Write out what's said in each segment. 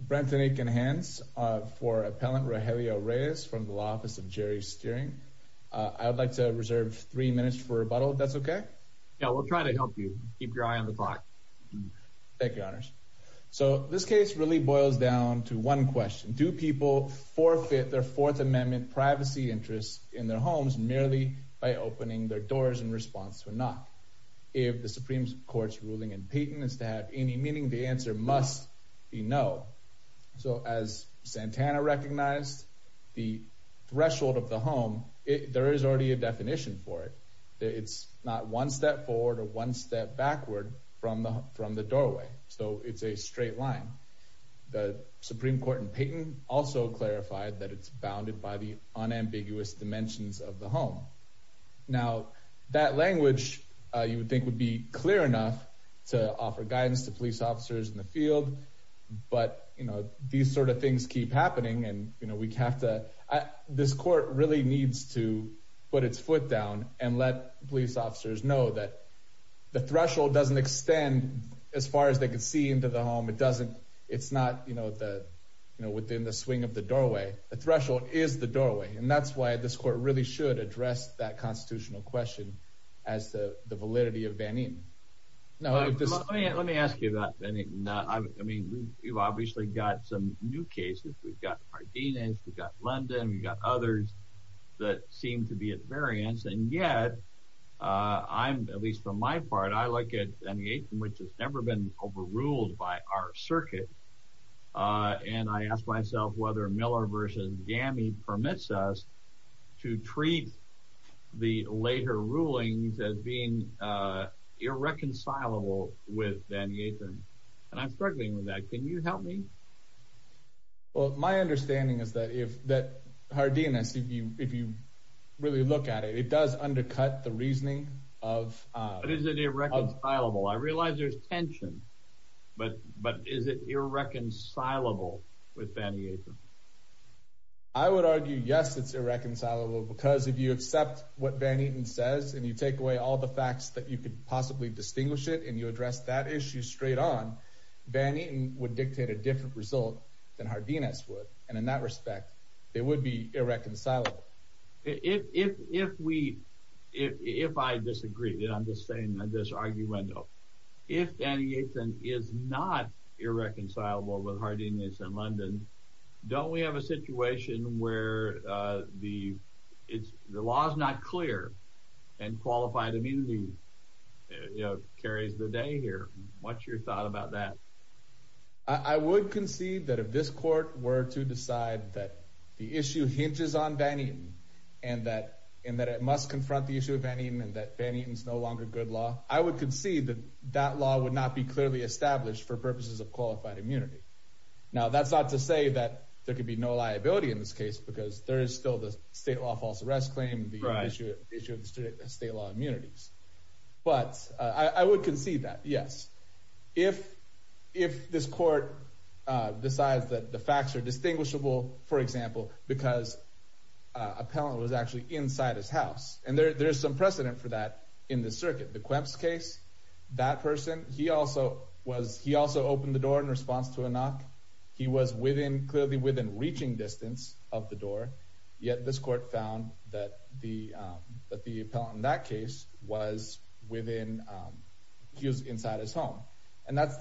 Brenton Aiken-Hance for Appellant Regelio Reyes from the Law Office of Jerry Steering. I would like to reserve three minutes for rebuttal, if that's okay? Yeah, we'll try to help you. Keep your eye on the clock. Thank you, Honors. So this case really boils down to one question. Do people forfeit their Fourth Amendment privacy interests in their homes merely by opening their doors in response to a knock? If the Supreme Court's ruling in Payton is to have any meaning, the answer must be no. So as Santana recognized, the threshold of the home, there is already a definition for it. It's not one step forward or one step backward from the from the doorway. So it's a straight line. The Supreme Court in Payton also clarified that it's bounded by the unambiguous dimensions of the home. Now that language you would think would be clear enough to offer guidance to police officers in the field. But, you know, these sort of things keep happening. And you know, we have to, this court really needs to put its foot down and let police officers know that the threshold doesn't extend as far as they can see into the home. It doesn't, it's not, you know, the, you know, within the swing of the doorway, the threshold is the doorway. And that's why this court really should address that constitutional question as the validity of Van Eenen. Now, let me ask you that. I mean, you've obviously got some new cases. We've got Ardenas, we've got London, we've got others that seem to be at variance. And yet, I'm at least from my part, I look at any age in which has never been overruled by our circuit. And I asked myself whether Miller versus GAMI permits us to be irreconcilable with Van Eeten. And I'm struggling with that. Can you help me? Well, my understanding is that if that Ardenas, if you really look at it, it does undercut the reasoning of... But is it irreconcilable? I realize there's tension. But is it irreconcilable with Van Eeten? I would argue yes, it's irreconcilable. Because if you accept what Van Eeten says, and you take away all the facts that you could possibly distinguish it, and you address that issue straight on, Van Eeten would dictate a different result than Ardenas would. And in that respect, it would be irreconcilable. If we, if I disagree, I'm just saying this arguendo. If Van Eeten is not irreconcilable with Ardenas and London, don't we have a situation where the law is not clear, and qualified immunity carries the day here? What's your thought about that? I would concede that if this court were to decide that the issue hinges on Van Eeten, and that it must confront the issue of Van Eeten, and that Van Eeten is no longer good law, I would concede that that law would not be clearly established for purposes of qualified immunity. Now, that's not to say that there could be no liability in this case, because there is still the state law false arrest claim, the issue of the state law immunities. But I would concede that, yes. If this court decides that the facts are distinguishable, for example, because a pellant was actually inside his house, and there's some precedent for that in this circuit. The Kwebs case, that person, he also was, he also opened the door in response to a knock. He was within, clearly within reaching distance of the pellant in that case, was within, he was inside his home. And that's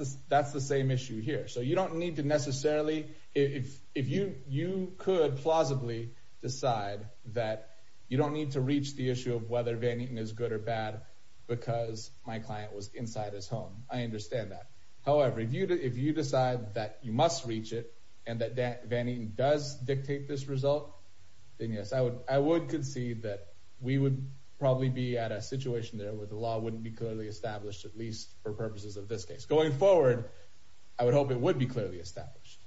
the same issue here. So you don't need to necessarily, if you could plausibly decide that you don't need to reach the issue of whether Van Eeten is good or bad, because my client was inside his home, I understand that. However, if you decide that you must reach it, and that Van Eeten does dictate this result, then yes, I would concede that we would probably be at a situation there where the law wouldn't be clearly established, at least for purposes of this case. Going forward, I would hope it would be clearly established.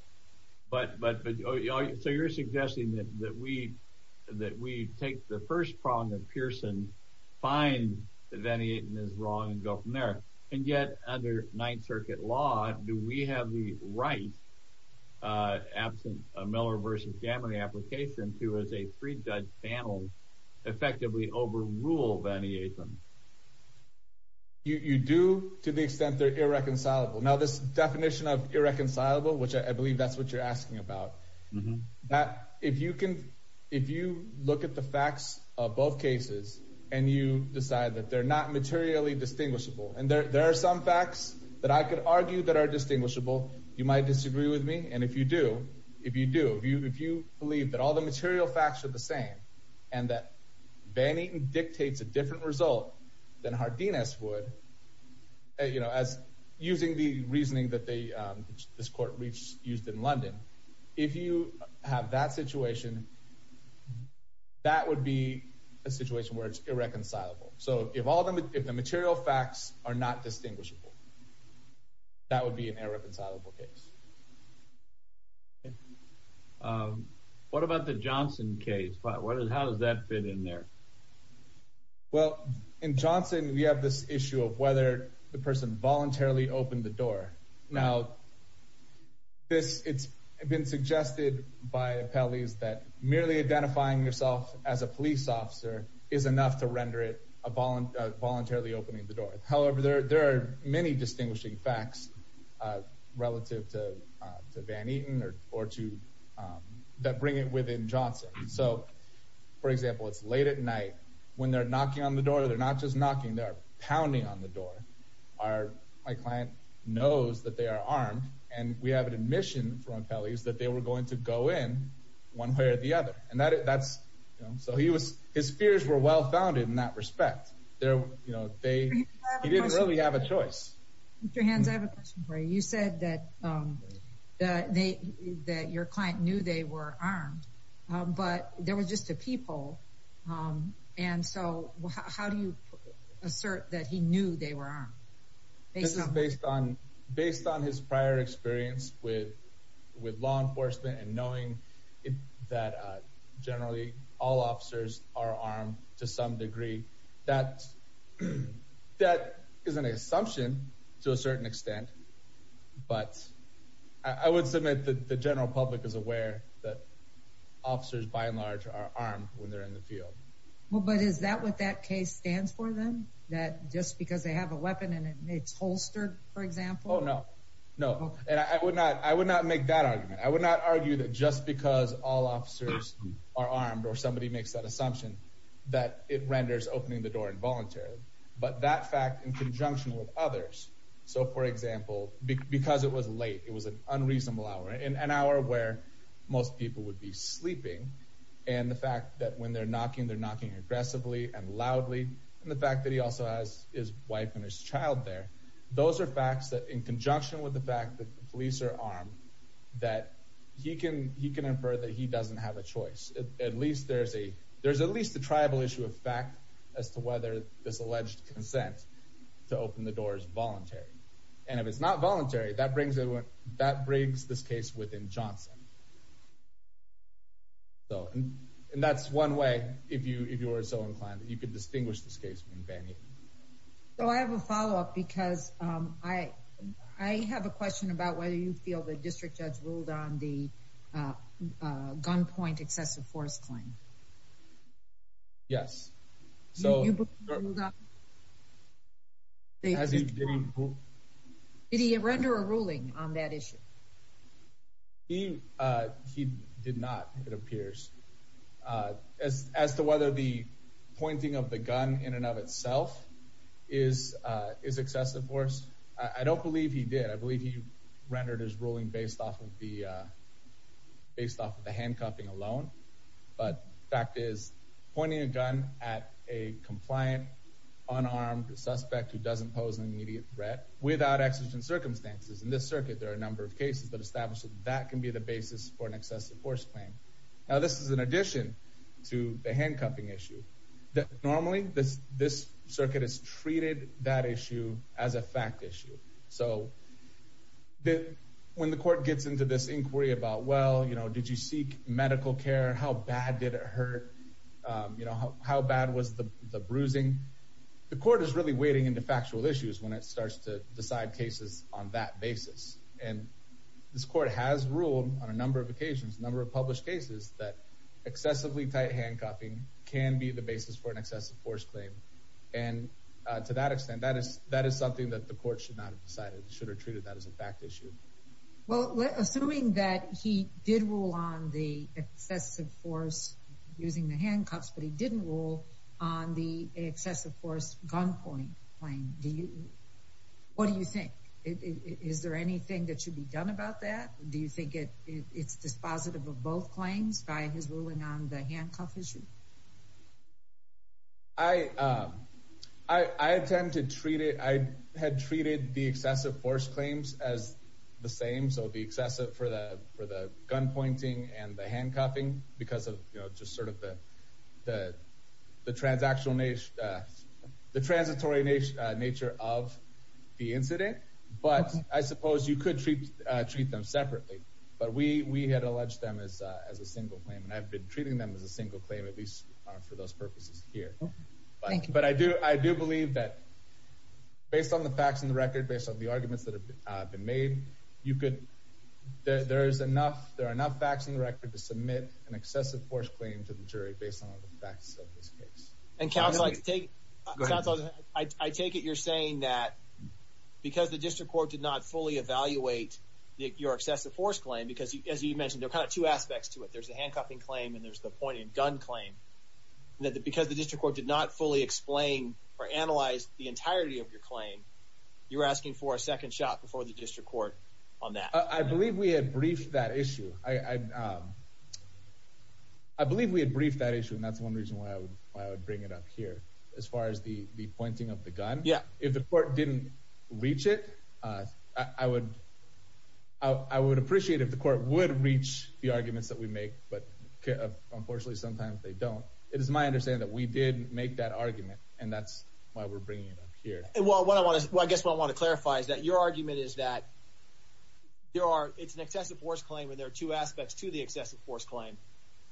So you're suggesting that we take the first prong of Pearson, find that Van Eeten is wrong, and go from there. And yet, under Ninth Circuit law, do we have the right, absent a Miller v. Gammon application, to, as a pre-judge panel, effectively overrule Van Eeten? You do, to the extent they're irreconcilable. Now, this definition of irreconcilable, which I believe that's what you're asking about, that if you can, if you look at the facts of both cases, and you decide that they're not materially distinguishable, and there are some facts that I could argue that are distinguishable, you might disagree with me. And if you do, if you do, if you believe that all the material facts are the same, and that Van Eeten dictates a different result than Hardinas would, you know, as using the reasoning that they, this court reached, used in London, if you have that situation, that would be a situation where it's irreconcilable. So if all the, if the material facts are not irreconcilable case. What about the Johnson case? How does that fit in there? Well, in Johnson, we have this issue of whether the person voluntarily opened the door. Now, this, it's been suggested by appellees that merely identifying yourself as a police officer is enough to render it a voluntarily opening the facts, relative to Van Eeten or to, that bring it within Johnson. So, for example, it's late at night, when they're knocking on the door, they're not just knocking, they're pounding on the door. Our, my client knows that they are armed, and we have an admission from appellees that they were going to go in one way or the other. And that's, so he was, his fears were well founded in that respect. They're, you know, they, he didn't really have a choice. Mr. Hans, I have a question for you. You said that, that they, that your client knew they were armed, but there was just a peephole. And so how do you assert that he knew they were armed? This is based on, based on his prior experience with, with law enforcement and that, that is an assumption to a certain extent. But I would submit that the general public is aware that officers, by and large, are armed when they're in the field. Well, but is that what that case stands for then? That just because they have a weapon and it's holstered, for example? Oh, no, no. And I would not, I would not make that argument. I would not argue that just because all officers are armed, or somebody makes that assumption, that it renders opening the door involuntary. But that fact in conjunction with others. So for example, because it was late, it was an unreasonable hour, an hour where most people would be sleeping. And the fact that when they're knocking, they're knocking aggressively and loudly. And the fact that he also has his wife and his child there. Those are facts that in conjunction with the fact that the police are armed, that he can, he can infer that he doesn't have a choice. At least there's at least a tribal issue of fact as to whether this alleged consent to open the door is voluntary. And if it's not voluntary, that brings it, that brings this case within Johnson. So, and that's one way, if you, if you are so inclined, that you could distinguish this case from Van Eten. So I have a follow up because I, I have a question about whether you feel the district judge ruled on the gunpoint excessive force claim. Yes. So, as he did, did he render a ruling on that issue? He, he did not, it appears. Uh, as, as to whether the pointing of the gun in and of itself is, uh, is excessive force. I don't believe he did. I believe he rendered his ruling based off of the, uh, based off of the handcuffing alone. But the fact is, pointing a gun at a compliant, unarmed suspect who doesn't pose an immediate threat without exigent circumstances. In this circuit, there are a number of cases that establish that that can be the basis for an excessive force claim. Now, this is in addition to the handcuffing issue. Normally, this, this circuit has treated that issue as a fact issue. So, when the court gets into this inquiry about, well, you know, did you seek medical care? How bad did it hurt? You know, how bad was the bruising? The court is really wading into factual issues when it starts to decide cases on that basis. And this court has ruled on a number of occasions, number of published cases that excessively tight handcuffing can be the basis for an excessive force claim. And to that extent, that is, that is something that the court should not have decided, should have treated that as a fact issue. Well, assuming that he did rule on the excessive force using the handcuffs, but he didn't rule on the excessive force gunpoint claim, do you, what do you think? Is there anything that should be done about that? Do you think it's dispositive of both claims by his ruling on the handcuff issue? I, I, I tend to treat it, I had treated the excessive force claims as the same. So, the excessive for the, for the gunpointing and the handcuffing because of, you know, just sort of the, the, the transactional nature, the transitory nature, nature of the incident. But I suppose you could treat, treat them separately. But we, we had alleged them as, as a single claim. And I've been treating them as a single claim, at least for those purposes here. But, but I do, I do believe that based on the facts in the record, based on the arguments that have been made, you could, there, there is enough, there are enough facts in the record to submit an excessive force claim to the jury based on the facts of this case. And counsel, I take, counsel, I, I take it you're saying that because the district court did not fully evaluate your excessive force claim, because as you mentioned, there are kind of two aspects to it. There's the handcuffing claim and there's the pointing gun claim. That the, because the district court did not fully explain or analyze the entirety of your claim, you're asking for a second shot before the district court on that. I, I believe we had briefed that issue. I, I, I believe we had briefed that issue and that's one reason why I would, why I would bring it up here. As far as the, the pointing of the gun. Yeah. If the court didn't reach it, I, I would, I would appreciate if the court would reach the arguments that we make, but unfortunately sometimes they don't. It is my understanding that we did make that argument and that's why we're bringing it up here. And what I want to, I guess what I want to clarify is that your argument is that there are, it's an excessive force claim and there are two aspects to the excessive force claim.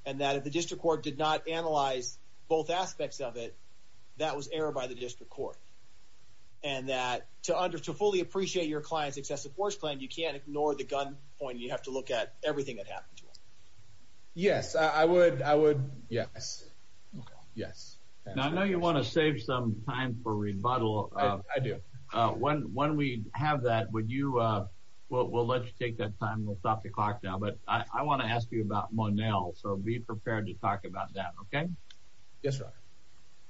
And that if the district court did not analyze both aspects of it, that was error by the district court. And that to under, to fully appreciate your client's point, you have to look at everything that happened to him. Yes, I would. I would. Yes. Okay. Yes. Now, I know you want to save some time for rebuttal. I do. When, when we have that, would you, we'll, we'll let you take that time. We'll stop the clock now, but I want to ask you about Monell. So be prepared to talk about that. Okay. Yes, sir.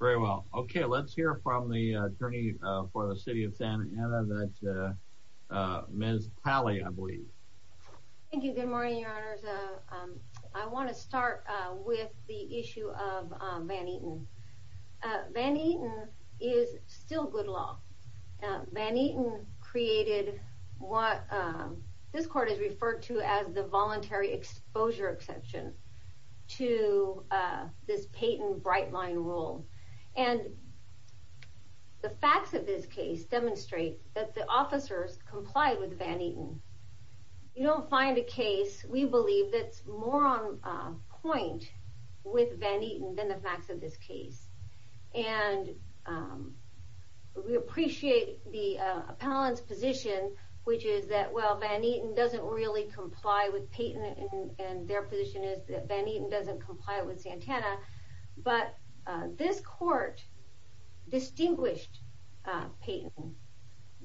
Very well. Okay. Let's hear from the attorney for the city of Santa Ana that uh, men's pally, I believe. Thank you. Good morning, your honors. Uh, I want to start with the issue of Van Eaton. Uh, Van Eaton is still good law. Uh, Van Eaton created what, um, this court is referred to as the voluntary exposure exception to, uh, this Peyton Brightline rule. And the facts of this case demonstrate that the officers complied with Van Eaton. You don't find a case, we believe that's more on a point with Van Eaton than the facts of this case. And, um, we appreciate the, uh, appellant's position, which is that, well, Van Eaton doesn't really comply with Peyton and their position is that Van Eaton doesn't comply with Santa Ana. But, uh, this court distinguished, uh, Peyton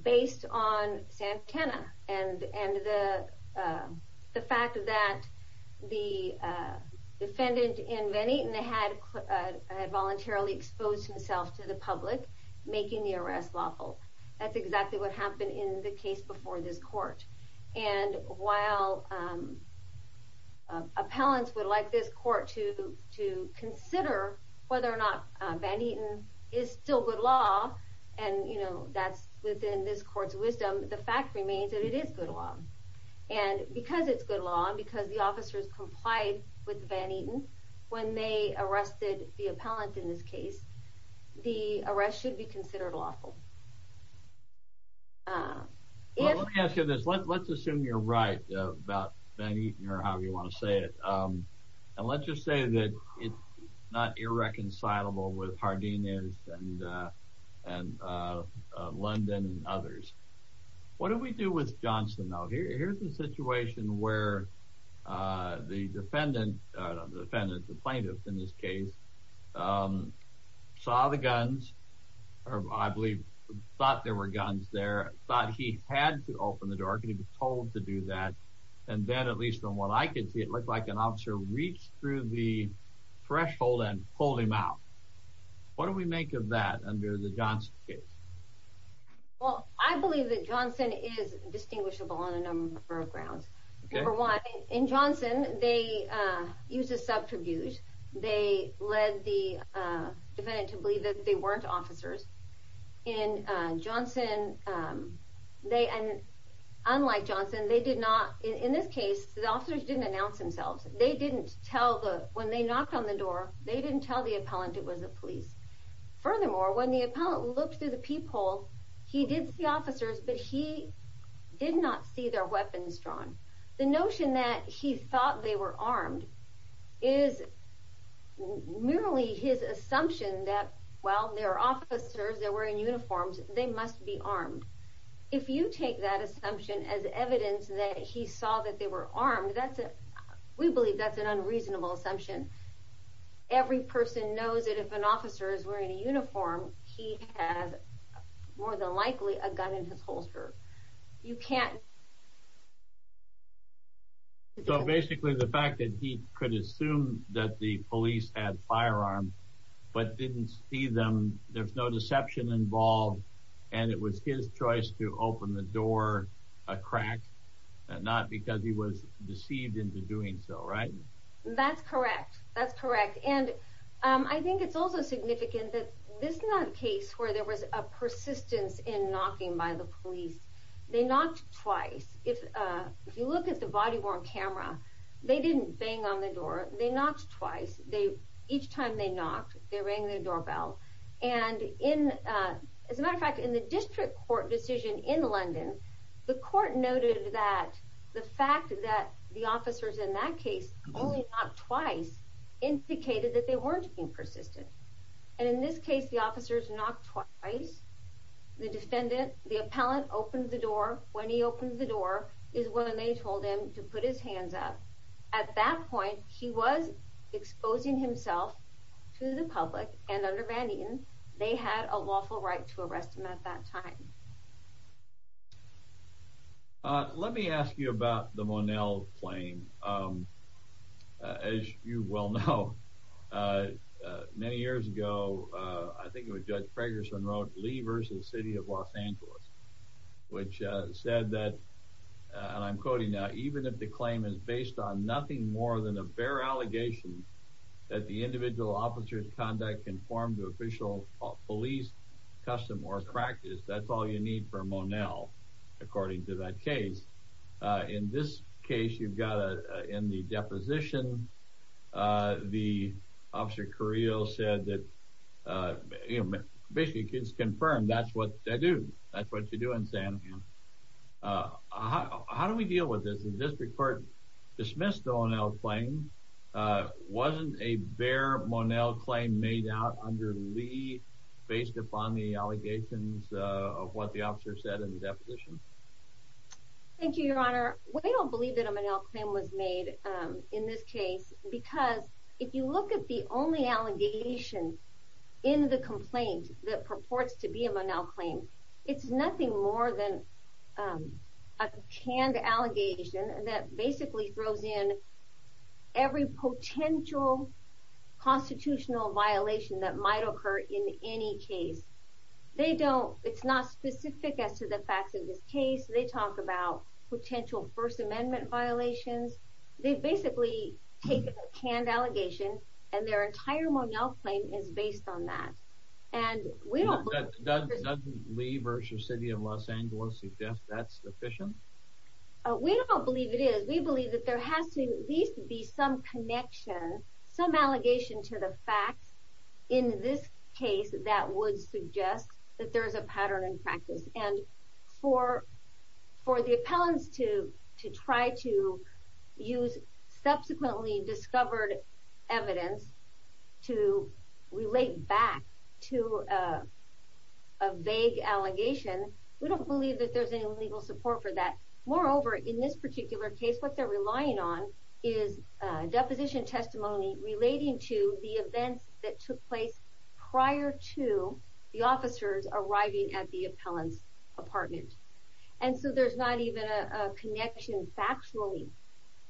based on Santa Ana and, and the, uh, the fact of that, the, uh, defendant in Van Eaton had, uh, had voluntarily exposed himself to the public, making the arrest lawful. That's exactly what happened in the case before this court. And while, um, uh, appellants would like this court to, to consider whether or not, uh, Van Eaton is still good law. And, you know, that's within this court's wisdom. The fact remains that it is good law. And because it's good law and because the officers complied with Van Eaton when they arrested the appellant in this case, the arrest should be considered lawful. Uh, if, let me ask you this, let's, let's assume you're right about Van Eaton or however you want to say it. Um, and let's just say that it's not irreconcilable with Hardina's and, uh, and, uh, London and others. What do we do with Johnson? Now here, here's the situation where, uh, the defendant, uh, defendant, the plaintiff in this case, um, saw the guns or I believe thought there were guns there, thought he had to open the door to be told to do that. And then at least from what I could see, it looked like an officer reached through the threshold and pulled him out. What do we make of that under the Johnson case? Well, I believe that Johnson is distinguishable on a number of grounds. Number one, in Johnson, they, uh, used a subtribute. They led the, uh, defendant to believe that they weren't officers. And, uh, Johnson, um, they, and unlike Johnson, they did not, in this case, the officers didn't announce themselves. They didn't tell the, when they knocked on the door, they didn't tell the appellant it was the police. Furthermore, when the appellant looked through the peephole, he did see officers, but he did not see their weapons drawn. The notion that he thought they were armed is merely his assumption that, well, they're officers, they're wearing uniforms, they must be armed. If you take that assumption as evidence that he saw that they were armed, that's a, we believe that's an unreasonable assumption. Every person knows that if an officer is wearing a uniform, he has more than likely a gun in his holster. You can't. So basically, the fact that he could assume that the police had firearms, but didn't see them, there's no deception involved, and it was his choice to open the door a crack, not because he was deceived into doing so, right? That's correct. That's correct. And, um, I think it's also significant that this is not a case where there was a persistence in knocking by the police. They knocked twice. If, uh, if you look at the body worn camera, they didn't bang on the door. They knocked twice. They, each time they knocked, they rang the doorbell. And in, uh, as a matter of fact, in the district court decision in London, the court noted that the fact that the officers in that case only knocked twice, indicated that they weren't being persistent. And in this case, the officers knocked twice. The defendant, the appellant, opened the door. When he opened the door is when they told him to put his hands up. At that point, he was exposing himself to the public, and under Van Eten, they had a lawful right to arrest him at that time. Let me ask you about the Monell claim. Um, as you well know, uh, many years ago, uh, I think it was Judge Fragerson wrote, Lee versus City of Los Angeles, which said that, and I'm quoting now, even if the claim is based on nothing more than a bare allegation that the individual officer's conduct conformed to official police custom or practice, that's all you need for Monell, according to that case. Uh, in this case, you've got, uh, in the deposition, uh, the officer Carrillo said that, uh, you know, basically it's confirmed. That's what they do. That's what you do in San Juan. Uh, how do we deal with this? The district court dismissed the Monell claim. Uh, wasn't a bare Monell claim made out under Lee based upon the allegations of what the officer said in the deposition? Thank you, Your Honor. We don't believe that a Monell claim was made, um, in this case, because if you look at the only allegation in the complaint that purports to be a Monell claim, it's nothing more than, um, a canned allegation that basically throws in every potential constitutional violation that might occur in any case. They don't, it's not specific as to the They basically take a canned allegation, and their entire Monell claim is based on that. And we don't believe... Doesn't Lee v. City of Los Angeles suggest that's sufficient? Uh, we don't believe it is. We believe that there has to at least be some connection, some allegation to the facts in this case that would suggest that there's a pattern in practice. And for, for the appellants to, to try to use subsequently discovered evidence to relate back to, uh, a vague allegation, we don't believe that there's any legal support for that. Moreover, in this particular case, what they're relying on is, uh, deposition testimony relating to the events that took place prior to the officers arriving at the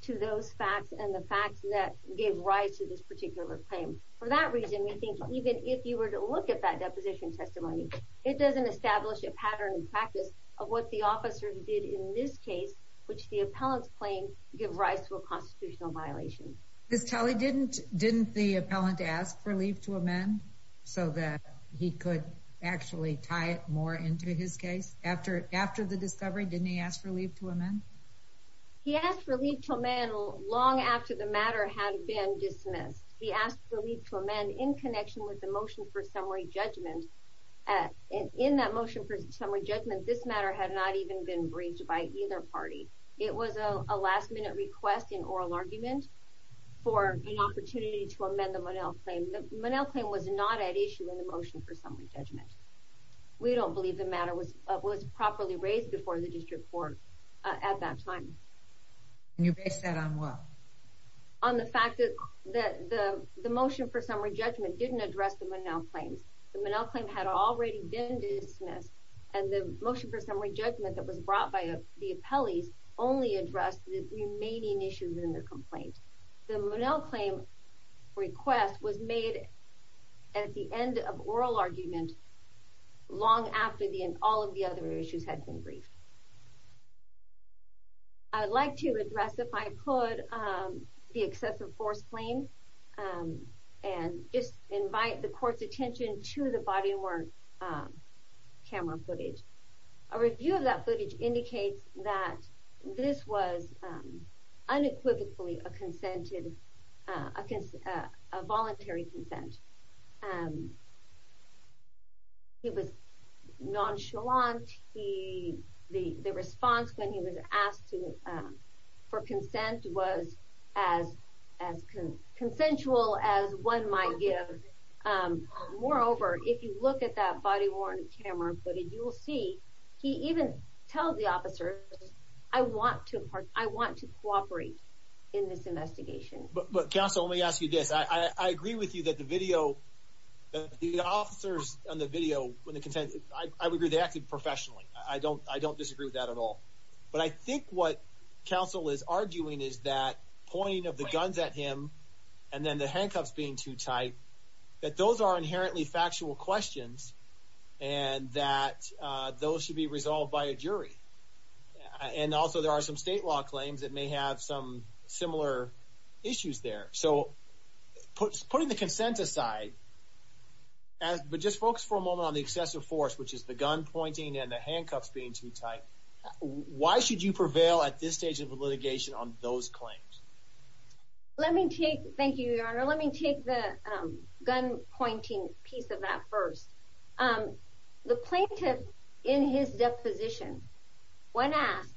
to those facts and the facts that gave rise to this particular claim. For that reason, we think even if you were to look at that deposition testimony, it doesn't establish a pattern in practice of what the officers did in this case, which the appellants claim give rise to a constitutional violation. Ms. Tully, didn't, didn't the appellant ask for leave to amend so that he could actually tie it more into his case? After, after the discovery, didn't he ask for leave to amend? He asked for leave to amend long after the matter had been dismissed. He asked for leave to amend in connection with the motion for summary judgment. Uh, in that motion for summary judgment, this matter had not even been briefed by either party. It was a last minute request in oral argument for an opportunity to amend the Monell claim. The Monell claim was not at issue in the motion for summary judgment. We don't believe the matter was, uh, was properly raised before the district court at that time. Can you base that on what? On the fact that, that the, the motion for summary judgment didn't address the Monell claims. The Monell claim had already been dismissed and the motion for summary judgment that was brought by the appellees only addressed the remaining issues in the complaint. The Monell claim request was made at the end of oral argument long after the, and all of the other issues had been briefed. I'd like to address if I could, um, the excessive force claim, um, and just invite the court's attention to the body of work, um, camera footage. A review of that footage indicates that this was, um, unequivocally a consented, uh, a voluntary consent. Um, it was nonchalant. He, the, the response when he was asked to, um, for consent was as, as consensual as one might give. Um, moreover, if you look at that body worn camera footage, you will see he even tells the officers, I want to, I want to cooperate in this investigation. But counsel, let me ask you this. I, I agree with you that the video, the officers on the video when the consent, I would agree they acted professionally. I don't, I don't disagree with that at all. But I think what counsel is arguing is that pointing of the guns at him and then the handcuffs being too tight, that those are inherently factual questions and that, uh, those should be resolved by a jury. And also there are some state law claims that may have some similar issues there. So putting the consent aside as, but just focus for a moment on the excessive force, which is the gun pointing and the handcuffs being too tight. Why should you prevail at this stage of litigation on those claims? Let me take, thank you, your honor. Let me take the gun pointing piece of that first. Um, the plaintiff in his deposition when asked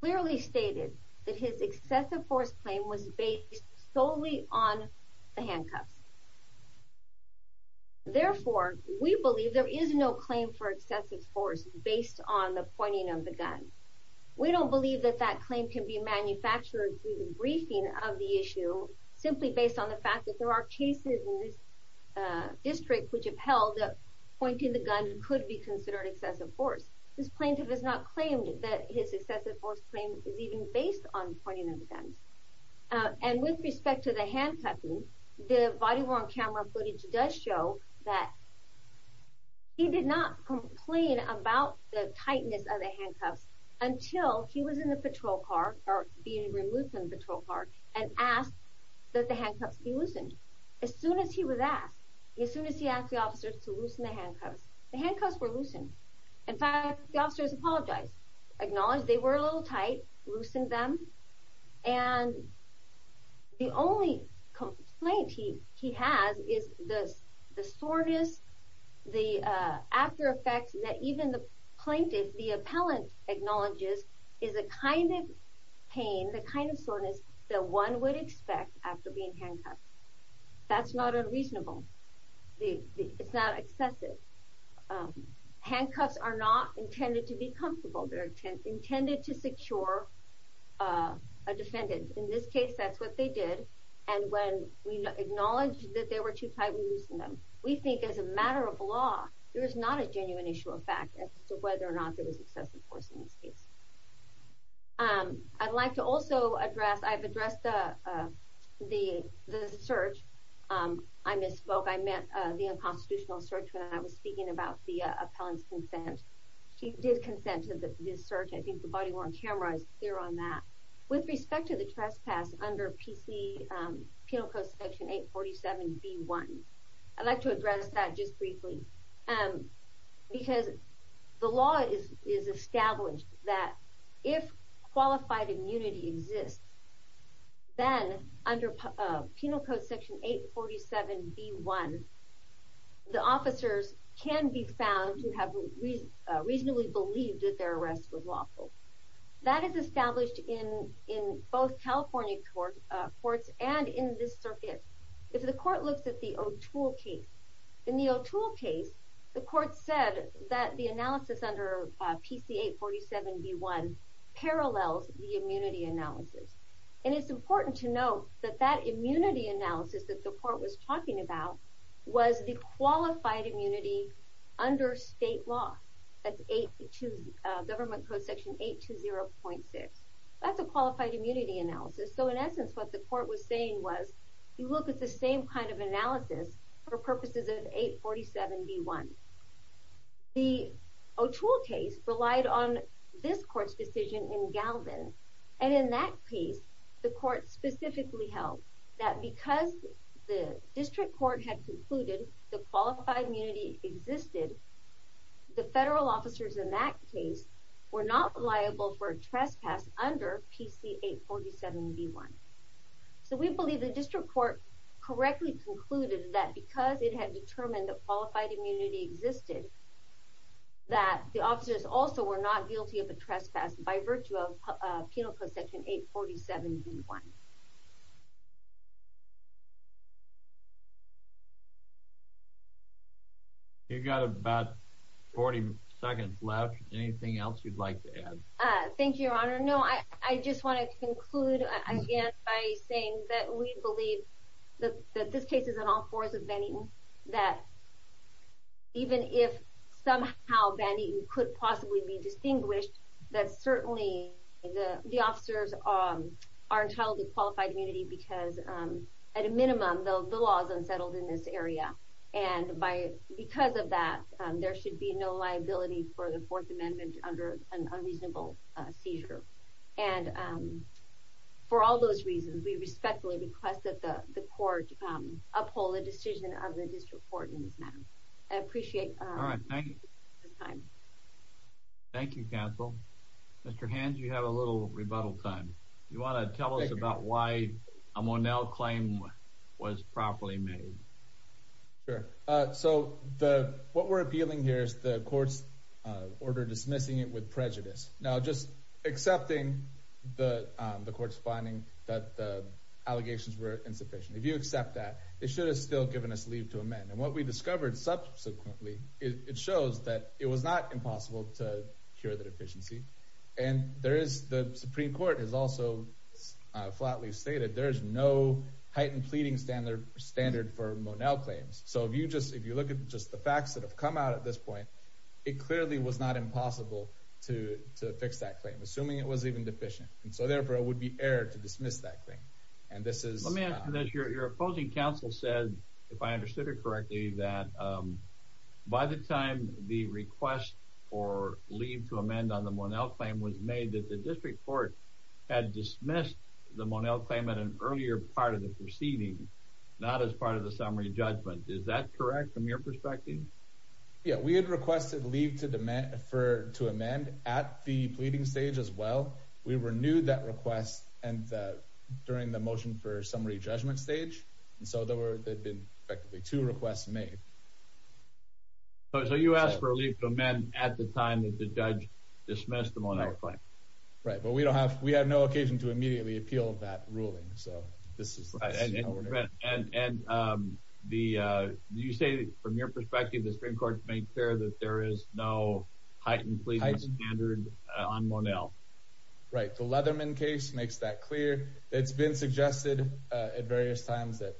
clearly stated that his excessive force claim was based solely on the handcuffs. Therefore, we believe there is no claim for excessive force based on the pointing of the gun. We don't believe that that claim can be manufactured through the briefing of the issue simply based on the fact that there are cases in this, uh, district which have held that pointing the gun could be considered excessive force. This plaintiff has not claimed that his excessive force claim is even based on the guns. Uh, and with respect to the handcuffing, the body worn camera footage does show that he did not complain about the tightness of the handcuffs until he was in the patrol car or being removed from the patrol car and asked that the handcuffs be loosened. As soon as he was asked, as soon as he asked the officers to loosen the handcuffs, the handcuffs were loosened. In fact, the only complaint he has is the soreness, the after effects that even the plaintiff, the appellant acknowledges is the kind of pain, the kind of soreness that one would expect after being handcuffed. That's not unreasonable. It's not excessive. Handcuffs are not intended to be comfortable. They're intended to secure a defendant. In this case, that's what they did. And when we acknowledged that they were too tight, we loosened them. We think as a matter of law, there is not a genuine issue of fact as to whether or not there was excessive force in this case. Um, I'd like to also address, I've addressed the, uh, the, the search. Um, I misspoke. I meant, uh, the unconstitutional search when I was speaking about the, uh, appellant's consent. He did consent to the, this search. I think the body worn camera is clear on that. With respect to the trespass under PC, um, Penal Code Section 847B1, I'd like to address that just briefly. Um, because the law is, is established that if qualified immunity exists, then under Penal Code Section 847B1, the officers can be found to have, uh, reasonably believed that their arrest was lawful. That is established in, in both California court, uh, courts and in this circuit. If the court looks at the O'Toole case, in the O'Toole case, the court said that the analysis under, uh, PC 847B1 parallels the immunity analysis. And it's important to note that that immunity analysis that the under state law, that's 8, uh, Government Code Section 820.6. That's a qualified immunity analysis. So in essence, what the court was saying was, you look at the same kind of analysis for purposes of 847B1. The O'Toole case relied on this court's decision in Galvin. And in that case, the court specifically held that because the district court had concluded the immunity existed, the federal officers in that case were not liable for a trespass under PC 847B1. So we believe the district court correctly concluded that because it had determined that qualified immunity existed, that the officers also were not guilty of a trespass by virtue of, uh, Penal Code Section 847B1. You've got about 40 seconds left. Anything else you'd like to add? Uh, thank you, Your Honor. No, I just want to conclude again by saying that we believe that this case is an all fours of Van Eten, that even if somehow Van Eten officers are entitled to qualified immunity, because at a minimum, the law is unsettled in this area. And because of that, there should be no liability for the Fourth Amendment under an unreasonable seizure. And for all those reasons, we respectfully request that the court uphold the decision of the district court in this matter. I appreciate your time. Thank you, counsel. Mr. Hands, you have a little rebuttal time. You want to tell us about why a Monell claim was properly made? Sure. Uh, so the what we're appealing here is the court's order dismissing it with prejudice. Now, just accepting the court's finding that the allegations were insufficient. If you accept that, it should have still given us leave to amend. And what we And there is the Supreme Court has also flatly stated there is no heightened pleading standard standard for Monell claims. So if you just if you look at just the facts that have come out at this point, it clearly was not impossible to fix that claim, assuming it was even deficient. And so, therefore, it would be error to dismiss that thing. And this is your opposing counsel said, if I understood it correctly, that, um, by the time the request for leave to amend on the Monell claim was made that the district court had dismissed the Monell claim in an earlier part of the proceeding, not as part of the summary judgment. Is that correct? From your perspective? Yeah, we had requested leave to demand for to amend at the pleading stage as well. We renewed that request and during the motion for summary judgment stage. And so there were effectively two requests made. So you asked for a leave to amend at the time that the judge dismissed the Monell claim, right? But we don't have. We have no occasion to immediately appeal that ruling. So this is right. And, um, the you say, from your perspective, the Supreme Court make sure that there is no heightened pleading standard on Monell, right? The Leatherman case makes that clear. It's been suggested at various times that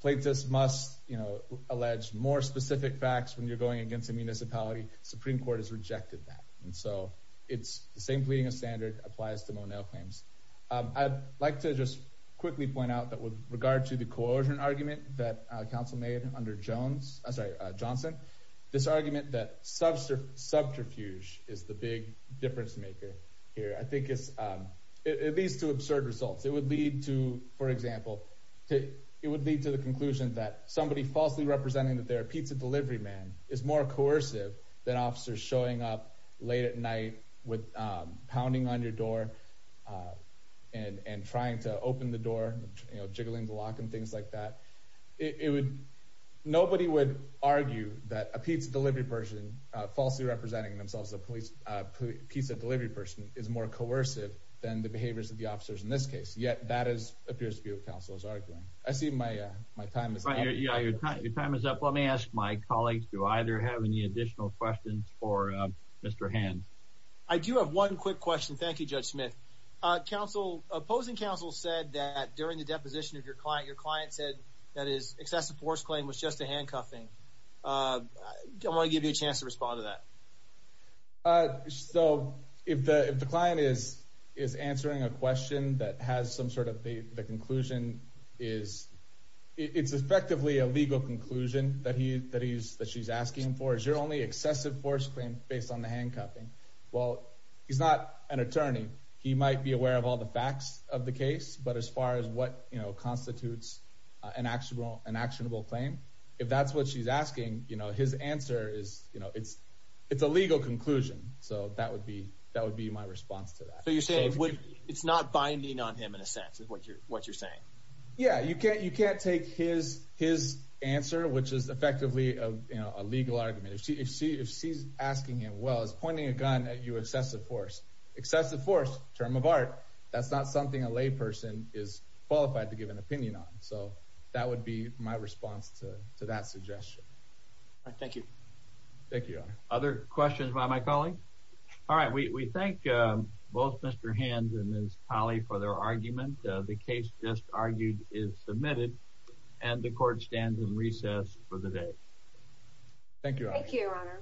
plaintiffs must, you know, allege more specific facts when you're going against a municipality. Supreme Court has rejected that. And so it's the same pleading of standard applies to Monell claims. I'd like to just quickly point out that with regard to the coercion argument that council made under Jones, sorry, Johnson, this argument that subterfuge is the big difference maker here, I think it's, um, it leads to absurd results. It would lead to, for example, it would lead to the conclusion that somebody falsely representing that their pizza delivery man is more coercive than officers showing up late at night with pounding on your door, uh, and and trying to open the door, you know, jiggling the lock and things like that. It would. Nobody would argue that a pizza delivery person falsely representing themselves. The police pizza delivery person is more coercive than the behaviors of the officers in this case. Yet that is appears to be what counsel is arguing. I see my my time is right here. Your time is up. Let me ask my colleagues. Do either have any additional questions for Mr Hand? I do have one quick question. Thank you, Judge Smith. Council opposing counsel said that during the deposition of your client, your client said that is excessive force claim was just a handcuffing. Uh, I want to give you a chance to respond to that. Uh, so if the if the client is is answering a question that has some sort of the conclusion is it's effectively a legal conclusion that he that he's that she's asking for is your only excessive force claim based on the handcuffing. Well, he's not an attorney. He might be aware of all the facts of the case. But as far as what constitutes an actual an actionable claim, if that's what she's is, you know, it's it's a legal conclusion. So that would be that would be my response to that. So you say it's not binding on him in a sense of what you're what you're saying. Yeah, you can't. You can't take his his answer, which is effectively a legal argument. If she if she if she's asking him, well, it's pointing a gun at you. Excessive force. Excessive force. Term of art. That's not something a lay person is qualified to give an opinion on. So that would be my response to that suggestion. Thank you. Thank you. Other questions by my colleague. All right. We thank both Mr Hands and his colleague for their argument. The case just argued is submitted, and the court stands in recess for the day. Thank you. Thank you, Your Honor.